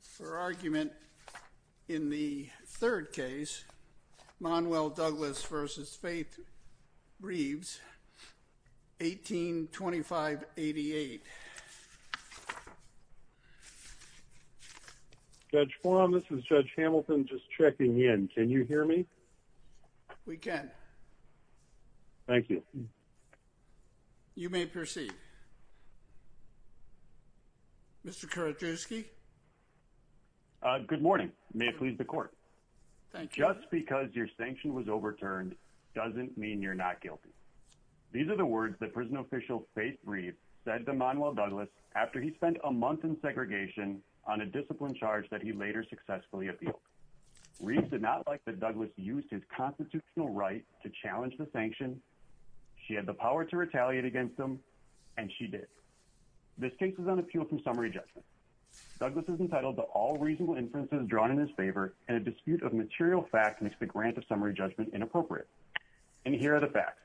for argument in the third case Monwell Douglas v. Faith Reeves 1825-88. Judge Quam, this is Judge Hamilton just checking in. Can you hear me? We can. Thank you. Good morning. May it please the court. Just because your sanction was overturned doesn't mean you're not guilty. These are the words that prison official Faith Reeves said to Monwell Douglas after he spent a month in segregation on a discipline charge that he later successfully appealed. Reeves did not like that Douglas used his constitutional right to challenge the sanction. She had the power to retaliate against him and she did. This case is on appeal from summary judgment. Douglas is entitled to all reasonable inferences drawn in his favor and a dispute of material fact makes the grant of summary judgment inappropriate. And here are the facts.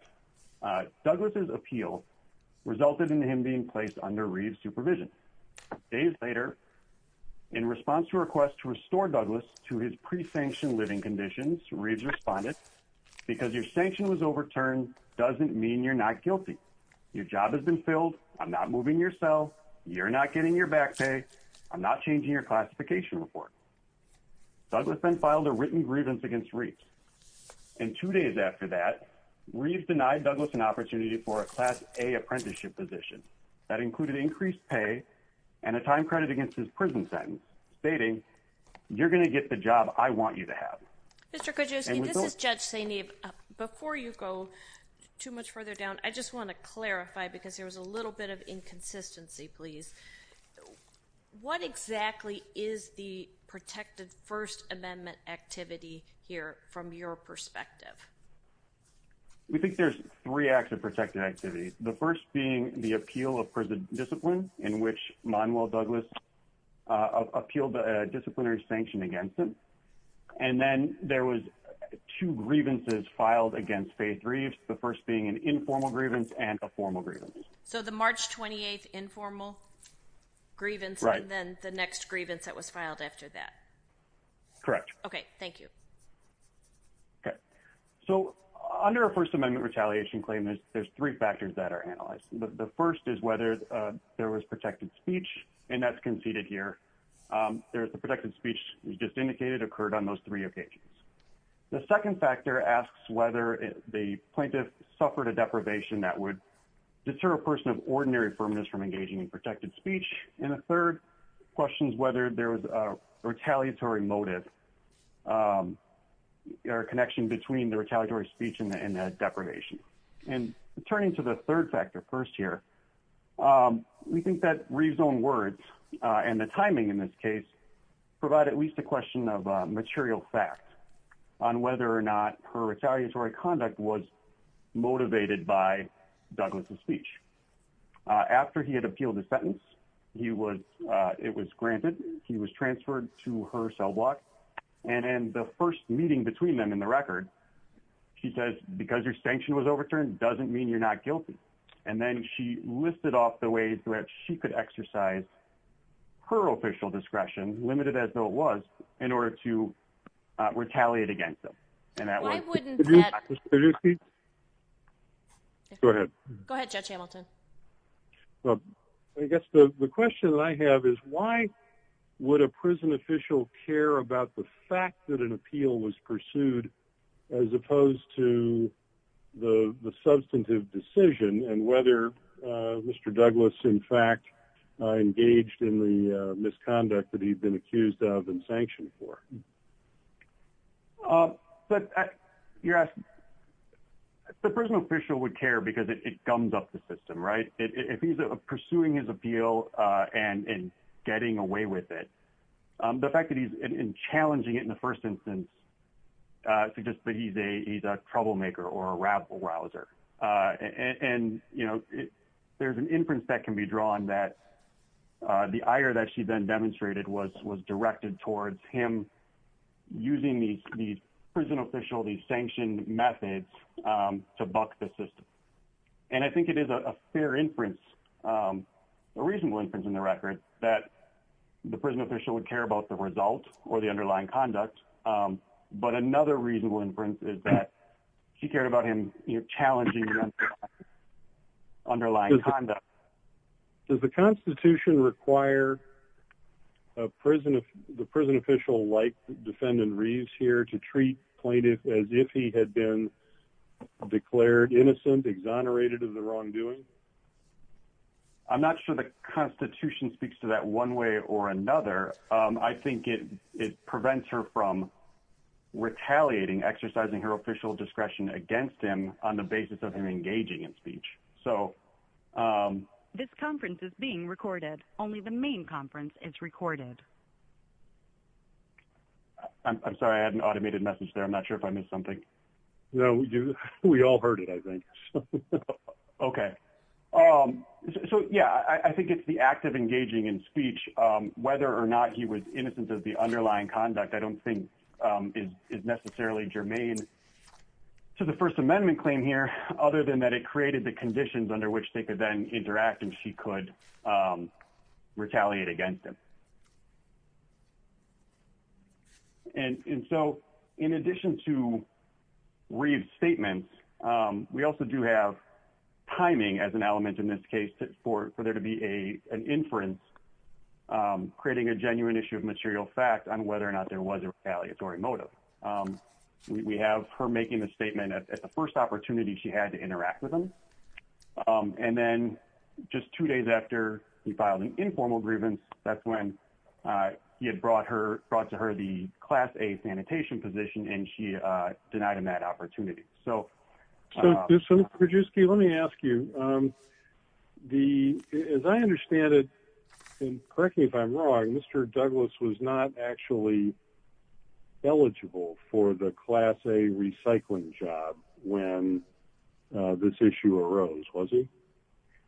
Douglas's appeal resulted in him being placed under Reeves' supervision. Days later, in response to a request to restore Douglas to his pre-sanctioned living conditions, Reeves responded, because your sanction was overturned doesn't mean you're not guilty. Your job has been filled. I'm not moving your cell. You're not getting your back pay. I'm not changing your classification report. Douglas then filed a written grievance against Reeves. And two days after that, Reeves denied Douglas an opportunity for a Class A apprenticeship position that included increased pay and a time credit against his prison sentence, stating, you're going to get the job I want you to have. Mr. Kojewski, this is Judge Saineev. Before you go too much further down, I just want to clarify, because there was a little bit of inconsistency, please. What exactly is the protected First Amendment activity here from your perspective? We think there's three acts of protected activity. The first being the appeal of prison discipline in which Manuel Douglas appealed a disciplinary sanction against him. And then there was two grievances, the first being an informal grievance and a formal grievance. So the March 28th informal grievance and then the next grievance that was filed after that? Correct. Okay. Thank you. Okay. So under a First Amendment retaliation claim, there's three factors that are analyzed. The first is whether there was protected speech, and that's conceded here. The protected speech is just indicated occurred on those three occasions. The second factor asks whether the plaintiff suffered a deprivation that would deter a person of ordinary firmness from engaging in protected speech. And the third question is whether there was a retaliatory motive or connection between the retaliatory speech and the deprivation. And turning to the third factor first here, we think that rezone words and the timing in this provide at least a question of material fact on whether or not her retaliatory conduct was motivated by Douglas's speech. After he had appealed the sentence, it was granted, he was transferred to her cell block. And in the first meeting between them in the record, she says, because your sanction was overturned doesn't mean you're not guilty. And then she listed off the ways that she could exercise her official discretion, limited as though it was in order to retaliate against them. And that wouldn't go ahead. Go ahead, Judge Hamilton. I guess the question I have is why would a prison official care about the fact that an appeal was and whether Mr. Douglas, in fact, engaged in the misconduct that he'd been accused of and sanctioned for? But you're asking the prison official would care because it comes up the system, right? If he's pursuing his appeal and getting away with it, the fact that he's challenging it in the first instance suggests that he's a troublemaker or a rabble rouser. And there's an inference that can be drawn that the ire that she then demonstrated was directed towards him using the prison official, these sanctioned methods to buck the system. And I think it is a fair inference, a reasonable inference in the record that the prison official would care about the result or the underlying conduct. But another reasonable inference is that he cared about him challenging the underlying conduct. Does the Constitution require a prison, the prison official like defendant Reeves here to treat plaintiff as if he had been declared innocent, exonerated of the wrongdoing? I'm not sure the Constitution speaks to that one way or another. I think it prevents her from retaliating, exercising her official discretion against him on the basis of him engaging in speech. So this conference is being recorded. Only the main conference is recorded. I'm sorry, I had an automated message there. I'm not sure if I missed something. No, we do. We all heard it, I think. Okay. So yeah, I think it's the act of engaging in speech, whether or not he was innocent of the underlying conduct, I don't think is necessarily germane to the First Amendment claim here, other than that it created the conditions under which they could then interact and she could retaliate against him. And so, in addition to Reeves' statements, we also do have timing as an element in this case for there to be an inference, creating a genuine issue of material fact on whether or not there was a retaliatory motive. We have her making the statement at the first opportunity she had to interact with him. And then just two days after he filed an informal grievance, that's when he had brought to her the Class A sanitation position, and she denied him that opportunity. So, Prodzewski, let me ask you, as I understand it, and correct me if I'm wrong, Mr. Douglas was not actually eligible for the Class A recycling job when this issue arose, was he?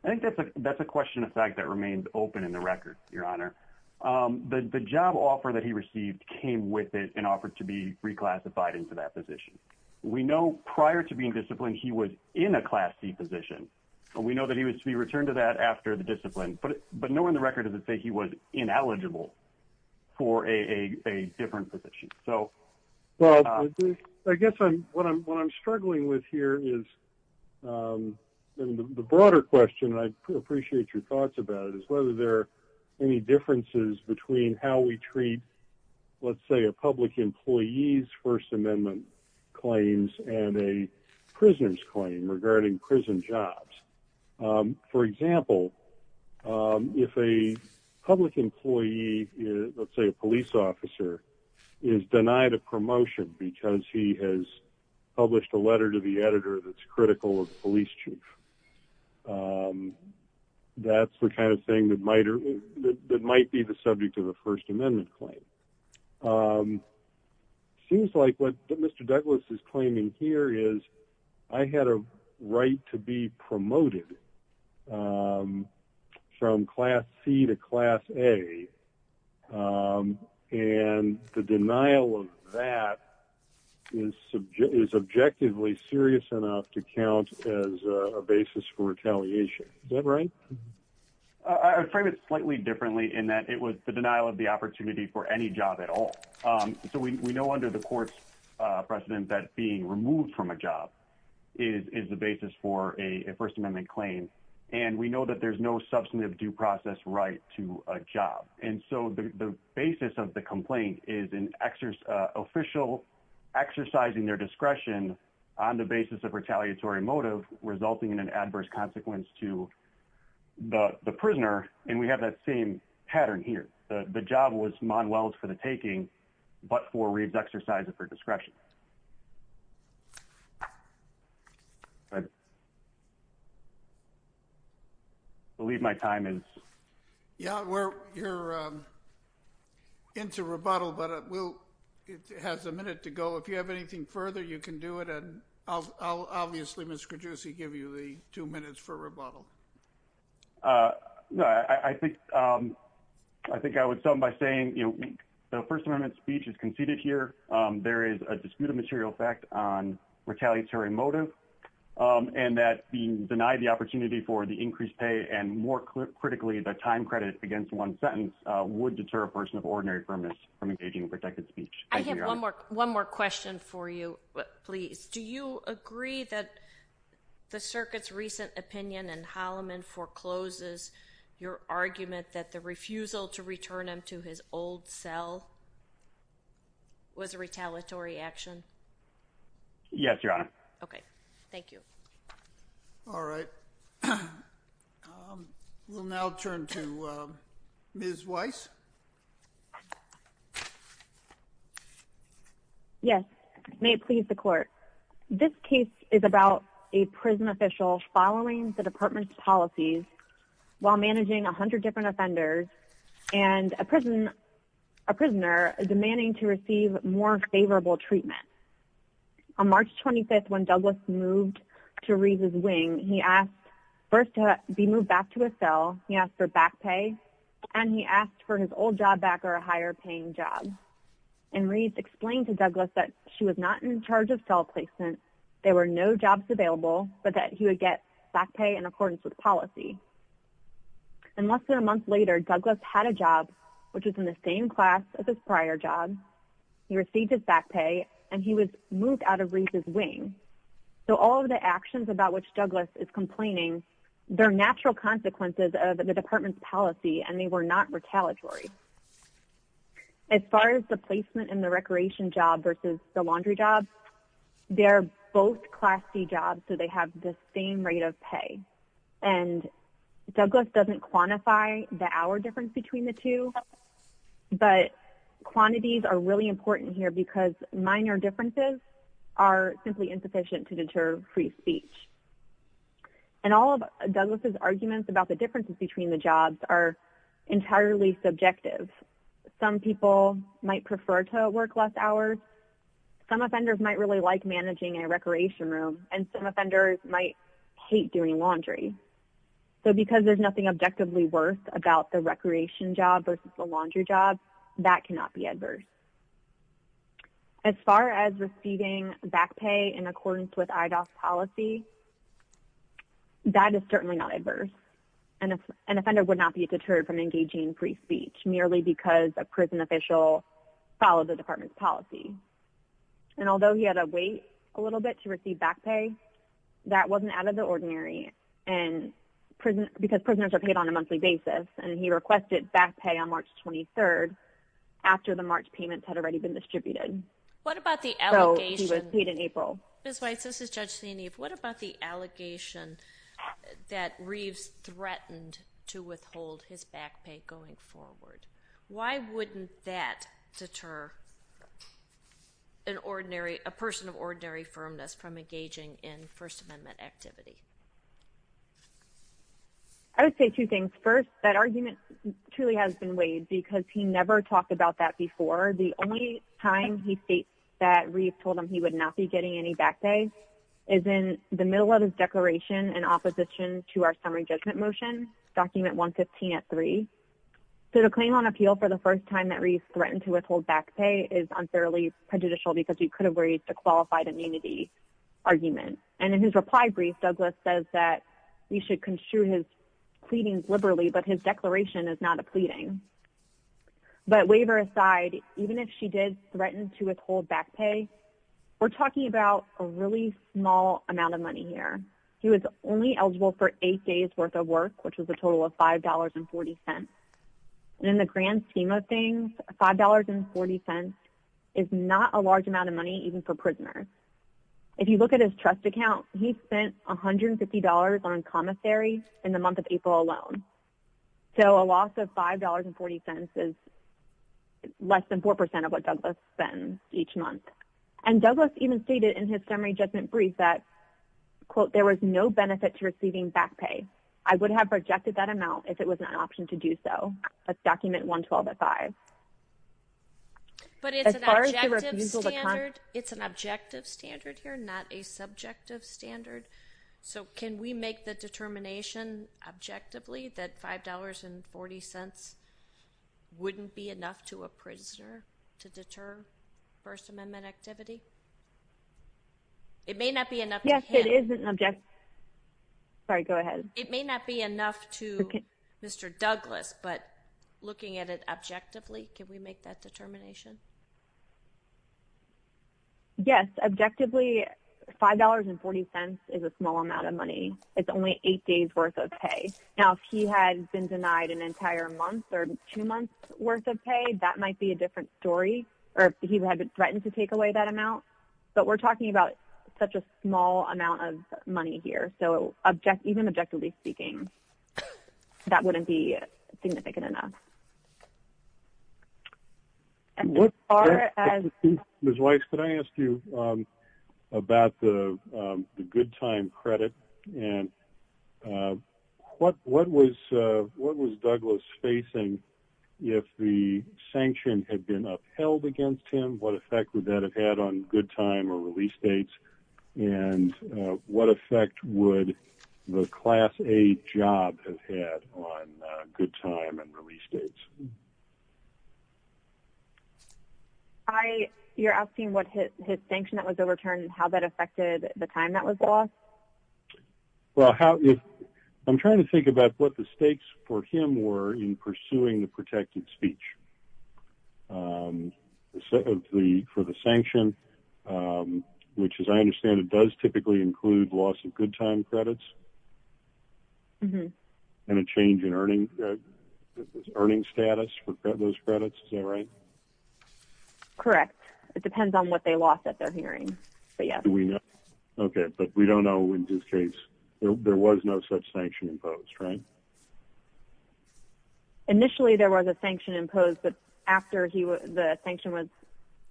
I think that's a question of fact that remained open in the record, Your Honor. The job offer that he received came with it and offered to be reclassified into that position. We know prior to being disciplined, he was in a Class C position, and we know that he was to be returned to that after the discipline, but no one in the record does it say he was ineligible for a different position. So... Well, I guess what I'm struggling with here is, the broader question, and I appreciate your thoughts about it, is whether there any differences between how we treat, let's say, a public employee's First Amendment claims and a prisoner's claim regarding prison jobs. For example, if a public employee, let's say a police officer, is denied a promotion because he has published a letter to the editor that's critical of the police chief, that's the kind of thing that might be the subject of a First Amendment claim. It seems like what Mr. Douglas is claiming here is, I had a right to be promoted from Class C to Class A, and the denial of that is subjectively serious enough to count as a basis for retaliation. Is that right? I would frame it slightly differently in that it was the denial of the opportunity for any job at all. So we know under the court's precedent that being removed from a job is the basis for a First Amendment claim, and we know that there's no substantive due process right to a job. And so the basis of the complaint is an official exercising their discretion on the basis of retaliatory motive resulting in an adverse consequence to the prisoner, and we have that same pattern here. The job was Manuel's for the taking, but for re-exercising of her discretion. I believe my time is... Yeah, we're into rebuttal, but it has a minute to go. If you have anything further, you can do it, and I'll obviously, Mr. Giudice, give you the two minutes for rebuttal. No, I think I would start by saying the First Amendment speech is conceded here. There is a disputed material fact on retaliatory motive, and that being denied the opportunity for the increased pay and, more critically, the time credit against one sentence would deter a person of ordinary firmness from engaging in protected speech. I have one more question for you, please. Do you agree that the circuit's recent opinion in Holloman forecloses your argument that the refusal to return him to his old cell was a retaliatory action? Yes, Your Honor. Okay, thank you. All right, we'll now turn to Ms. Weiss. Yes, may it please the Court. This case is about a prison official following the Department's policies while managing 100 different offenders and a prisoner demanding to receive more favorable treatment. On March 25th, when Douglas moved to Reed's wing, he asked first to be moved back to his cell. He asked for back pay, and he asked for his old job back or a higher-paying job. And Reed explained to Douglas that she was not in charge of cell placement, there were no jobs available, but that he would get back pay in accordance with policy. And less than a month later, Douglas had a job, which was in the same class as his prior job, he received his back pay, and he was moved out of Reed's wing. So all of the actions about which Douglas is complaining, they're natural consequences of the Department's policy, and they were not retaliatory. As far as the placement in the recreation job versus the laundry job, they're both Class C jobs, so they have the same rate of pay. And Douglas doesn't quantify the hour difference between the two, but quantities are really important here because minor differences are simply insufficient to deter free speech. And all of Douglas's arguments about the differences between the jobs are entirely subjective. Some people might prefer to work less hours, some offenders might really like managing a recreation room, and some offenders might hate doing laundry. So because there's nothing objectively worse about the recreation job versus the laundry job, that cannot be adverse. As far as receiving back pay in accordance with IDOC's policy, that is certainly not adverse. An offender would not be deterred from engaging free speech merely because a prison official followed the Department's policy. And although he had to wait a little bit to receive back pay, that wasn't out of the ordinary because prisoners are paid on a monthly basis, and he requested back pay on March 23rd after the March payments had already been distributed. So he was paid in April. Ms. Weiss, this is Judge Zienief. What about the allegation that Reeves threatened to withhold his back pay going forward? Why wouldn't that deter a person of ordinary firmness from engaging in First Amendment activity? I would say two things. First, that argument truly has been weighed because he never talked about that before. The only time he states that Reeves told him he would not be getting any back is in the middle of his declaration in opposition to our summary judgment motion, document 115 at 3. So the claim on appeal for the first time that Reeves threatened to withhold back pay is unfairly prejudicial because he could have raised a qualified immunity argument. And in his reply brief, Douglas says that we should construe his pleadings liberally, but his declaration is not a pleading. But waiver aside, even if she did threaten to withhold back pay, we're talking about a really small amount of money here. He was only eligible for eight days worth of work, which was a total of $5.40. In the grand scheme of things, $5.40 is not a large amount of money even for prisoners. If you look at his trust account, he spent $150 on commissary in the month of April alone. So a loss of $5.40 is less than 4% of what Douglas spends each month. And Douglas even stated in his summary judgment brief that, quote, there was no benefit to receiving back pay. I would have rejected that amount if it was not an option to do so. That's document 112 at 5. But it's an objective standard here, not a subjective standard. So can we make the determination objectively that $5.40 wouldn't be enough to a prisoner to deter First Amendment activity? It may not be enough. Yes, it is an object. Sorry, go ahead. It may not be enough to Mr. Douglas, but looking at it objectively, can we make that determination? Yes, objectively, $5.40 is a small amount of money. It's only eight days worth of pay. Now, if he had been denied an entire month or two months worth of pay, that might be a different story. Or if he had threatened to take away that amount. But we're talking about such a small amount of money here. So even objectively speaking, that wouldn't be significant enough. Ms. Weiss, could I ask you about the good time credit? And what was Douglas facing if the sanction had been upheld against him? What effect would that have had on good time or release dates? And what effect would the Class A job have had on good time and release dates? You're asking what his sanction that was overturned, how that affected the time that was lost? Well, I'm trying to think about what the stakes for him were in pursuing the protected speech. For the sanction, which as I understand it does typically include loss of good time credits and a change in earning status for those credits, is that right? Correct. It depends on what they lost at their hearing. Okay, but we don't know in this case. There was no such sanction imposed, right? No. Initially, there was a sanction imposed, but after the sanction was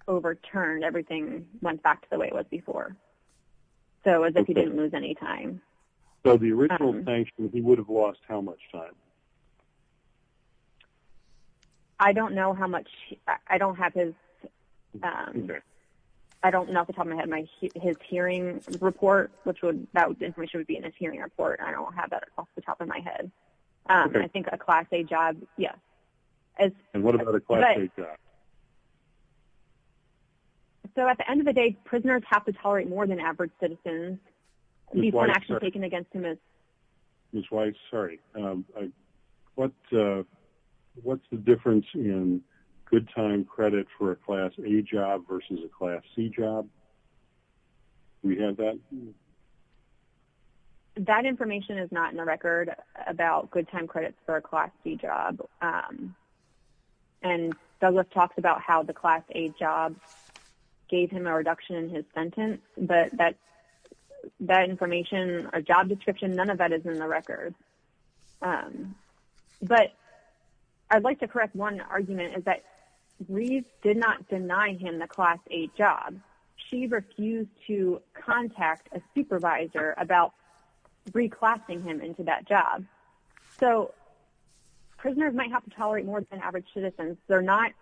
overturned, everything went back to the way it was before. So it was as if he didn't lose any time. So the original sanction, he would have lost how much time? I don't know how much. I don't have his... I don't know off the top of my head. His hearing report, that information would be in his hearing report. I don't have that off the top of my head. I think a Class A job, yes. And what about a Class A job? So at the end of the day, prisoners have to tolerate more than average citizens. At least an action taken against him is... Ms. Weiss, sorry. What's the difference in good time credit for a Class A job versus a Class C job? Can you add that? That information is not in the record about good time credits for a Class C job. And Douglas talks about how the Class A job gave him a reduction in his sentence, but that information or job description, none of that is in the record. But I'd like to correct one argument is that Reeve did not deny him the Class A job. She refused to contact a supervisor about reclassing him into that job. So prisoners might have to tolerate more than average citizens. They're not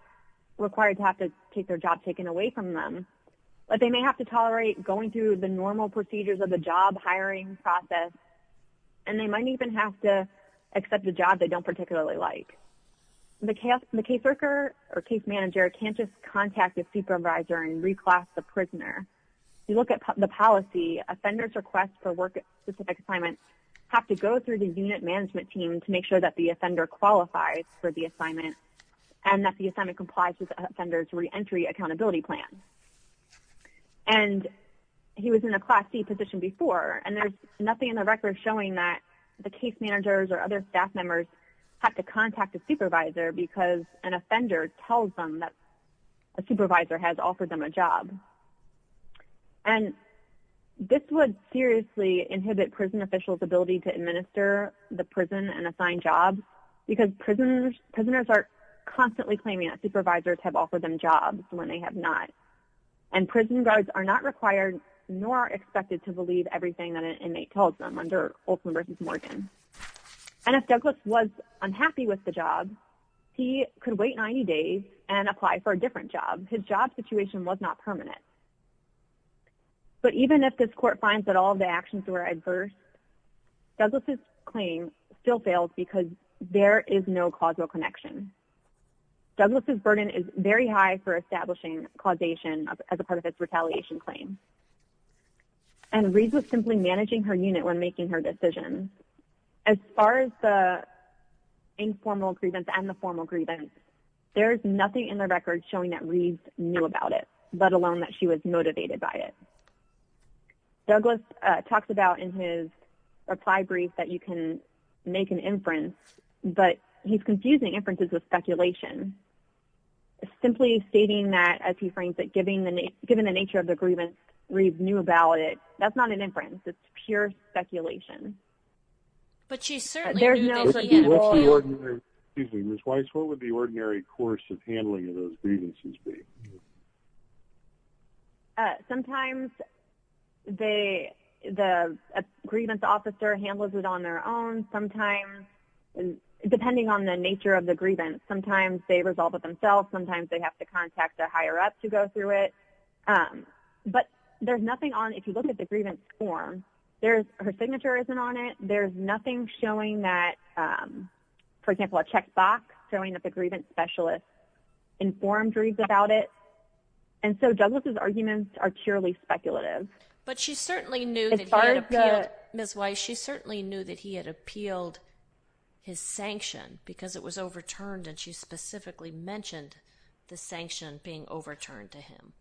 required to have to take their job taken away from them, but they may have to tolerate going through the normal procedures of the job hiring process, and they might even have to accept a job they don't particularly like. The caseworker or case manager can't just contact a supervisor and reclass the prisoner. You look at the policy, offenders' requests for work-specific assignments have to go through the unit management team to make sure that the offender qualifies for the assignment and that the assignment complies with the offender's reentry accountability plan. And he was in a Class C position before, and there's nothing in the record showing that the case managers or other staff members have to contact a supervisor because an offender tells them that a supervisor has assigned them a job. And this would seriously inhibit prison officials' ability to administer the prison and assign jobs because prisoners are constantly claiming that supervisors have offered them jobs when they have not. And prison guards are not required nor expected to believe everything that an inmate tells them under Olson v. Morgan. And if Douglas was unhappy with the job, he could wait 90 days and apply for a different job. His job situation was not permanent. But even if this court finds that all of the actions were adverse, Douglas' claim still fails because there is no causal connection. Douglas' burden is very high for establishing causation as a part of its retaliation claim. And Reid was simply managing her unit when making her decision. As far as the informal grievance and the formal grievance, there's nothing in the record showing that Reid knew about it, let alone that she was motivated by it. Douglas talks about in his reply brief that you can make an inference, but he's confusing inferences with speculation. Simply stating that, as he frames it, given the nature of the grievance, Reid knew about it. That's not an inference. It's pure speculation. But she certainly knows what he had in mind. Excuse me, Ms. Weiss, what would the ordinary course of handling of those grievances be? Sometimes the grievance officer handles it on their own. Sometimes, depending on the nature of the grievance, sometimes they resolve it themselves. Sometimes they have to contact a higher-up to go through it. But there's nothing on, if you look at the grievance form, there's, her signature isn't on it. There's nothing showing that, for example, a checkbox showing that the grievance specialist informed Reid about it. And so Douglas' arguments are purely speculative. But she certainly knew that he had appealed, Ms. Weiss, she certainly knew that he had appealed his sanction because it was overturned, and she specifically mentioned the sanction being overturned to him.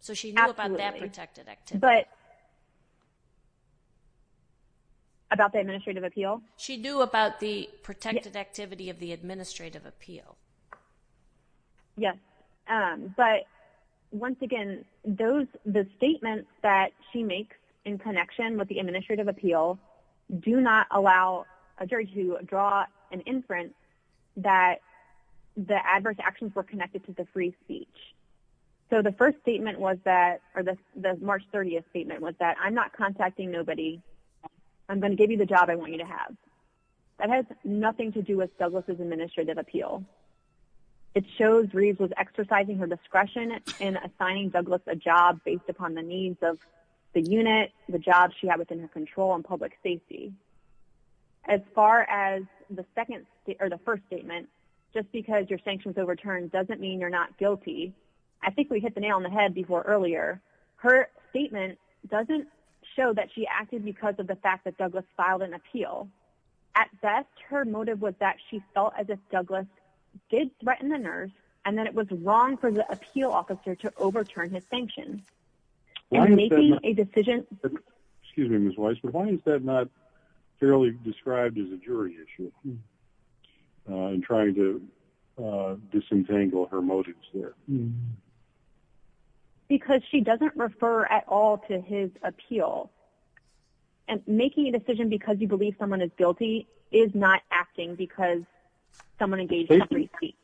So she knew about that protected activity. But, about the administrative appeal? She knew about the protected activity of the administrative appeal. Yes. But, once again, those, the statements that she makes in connection with the administrative appeal do not allow a jury to draw an inference that the adverse actions were connected to the free speech. So the first statement was that, or the March 30th statement was that, I'm not contacting nobody. I'm going to give you the job I want you to have. That has nothing to do with Douglas' administrative appeal. It shows Reid was exercising her discretion in assigning Douglas a control on public safety. As far as the second, or the first statement, just because your sanction was overturned doesn't mean you're not guilty. I think we hit the nail on the head before earlier. Her statement doesn't show that she acted because of the fact that Douglas filed an appeal. At best, her motive was that she felt as if Douglas did threaten the nurse and that it was wrong for the appeal officer to overturn his sanction. And making a decision... Excuse me, Ms. Weiss, but why is that not fairly described as a jury issue? In trying to disentangle her motives there. Because she doesn't refer at all to his appeal. And making a decision because you believe someone is guilty is not acting because someone engaged in a free speech.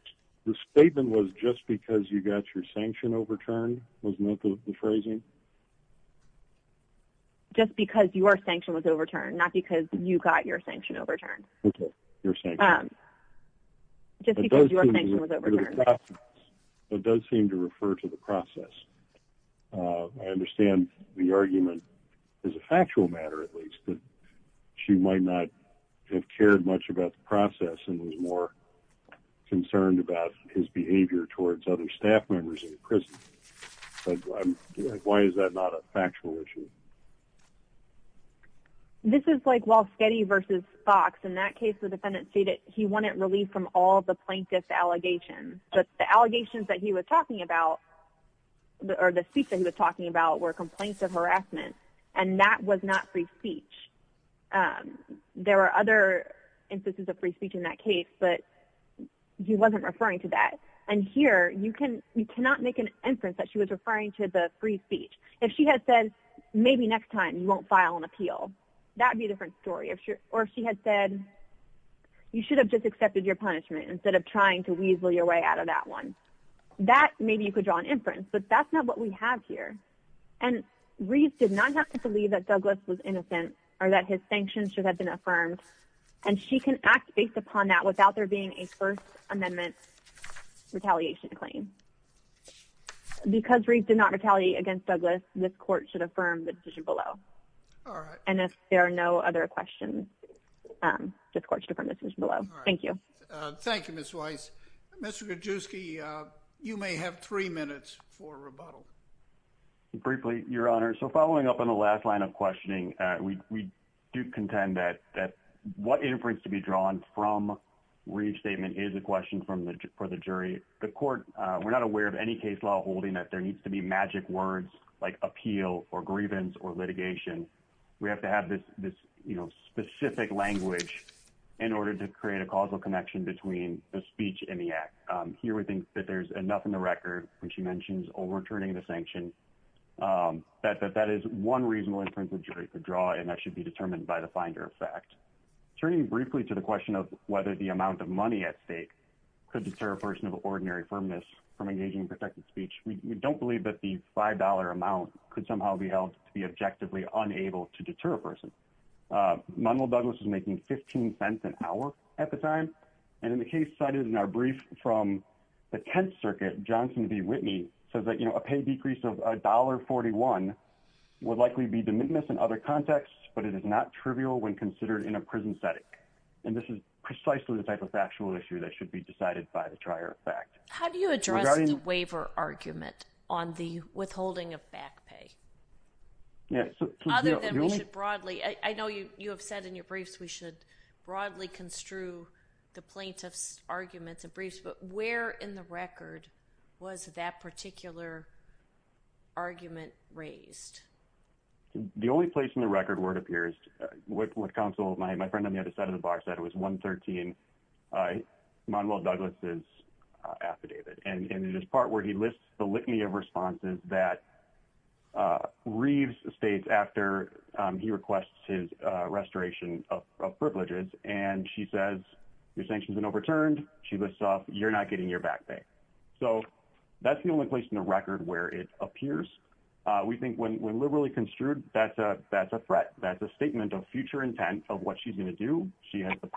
The statement was just because you got your sanction overturned was not the phrasing? Just because your sanction was overturned, not because you got your sanction overturned. Just because your sanction was overturned. It does seem to refer to the process. I understand the argument, as a factual matter at least, that she might not have cared much about the process and was more concerned about his behavior towards other staff members in the prison. Why is that not a factual issue? This is like Walsh-Getty versus Fox. In that case, the defendant stated he wanted relief from all the plaintiff's allegations. But the allegations that he was talking about, or the speech that he was talking about, were complaints of harassment. And that was not free speech. There were other instances of free speech in that case, but he wasn't referring to that. And here, you cannot make an inference that she was referring to the free speech. If she had said, maybe next time you won't file an appeal, that would be a different story. Or if she had said, you should have just accepted your punishment instead of trying to weasel your way out of that one. That, maybe you could draw an inference. But that's not what we have here. And Reeves did not have to believe that Douglas was innocent or that his sanctions should have been affirmed. And she can act based upon that without there being a First Amendment retaliation claim. Because Reeves did not retaliate against Douglas, this court should affirm the decision below. All right. And if there are no other questions, this court should affirm the decision below. All right. Thank you. Thank you, Ms. Weiss. Mr. Krajewski, you may have three minutes for rebuttal. Briefly, Your Honor. So following up on the last line of questioning, we do contend that what inference to be drawn from Reeves' statement is a question for the jury. The court, we're not aware of any case law holding that there needs to be magic words like appeal or grievance or litigation. We have to have this specific language in order to create a causal connection between the speech and the act. Here, we think that there's enough in the record, which he mentions, overturning the sanction, that that is one reasonable inference the jury could draw, and that should be determined by the finder of fact. Turning briefly to the question of whether the amount of money at stake could deter a person of ordinary firmness from engaging in protected speech, we don't believe that the $5 amount could somehow be held to be objectively unable to deter a person. Manuel Douglas is making 15 cents an hour at the time, and in the case cited in our brief from the Tenth Circuit, Johnson v. Whitney, says that, you know, a pay decrease of $1.41 would likely be de minimis in other contexts, but it is not trivial when considered in a prison setting. And this is precisely the type of factual issue that should be decided by the trier of fact. How do you address the waiver argument on the withholding of back pay? Yeah. Other than we should broadly, I know you have said in your briefs we should broadly construe the plaintiff's arguments and briefs, but where in the record was that particular argument raised? The only place in the record where it appears, what counsel, my friend on the other side of the box said, it was 113, Manuel Douglas' affidavit, and in this part where he lists the litany of responses that Reeves states after he requests his restoration of privileges, and she says your sanctions have been overturned, she lists off you're not getting your back pay. So that's the only place in the record where it appears. We think when liberally construed, that's a threat. That's a statement of future intent of what she's going to do. She has the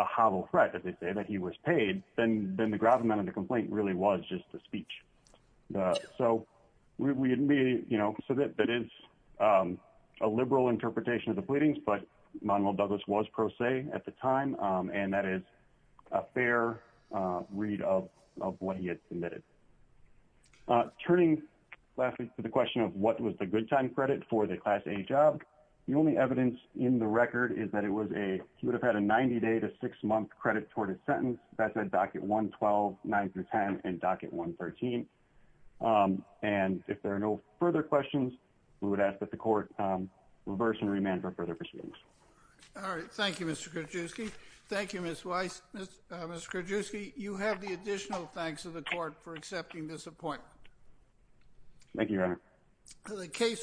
hollow threat that he was paid, then the grout amount of the complaint really was just a speech. So that is a liberal interpretation of the pleadings, but Manuel Douglas was pro se at the time, and that is a fair read of what he had submitted. Turning to the question of what was the good time credit for the class A job, the only evidence in the record is that he would have had a 90-day to six-month credit toward his sentence. That's at docket 112, 9-10, and docket 113. And if there are no further questions, we would ask that the court reverse and remand for further proceedings. All right. Thank you, Mr. Krajewski. Thank you, Ms. Weiss. Mr. Krajewski, you have the additional thanks of the court for accepting this appointment. Thank you, Your Honor.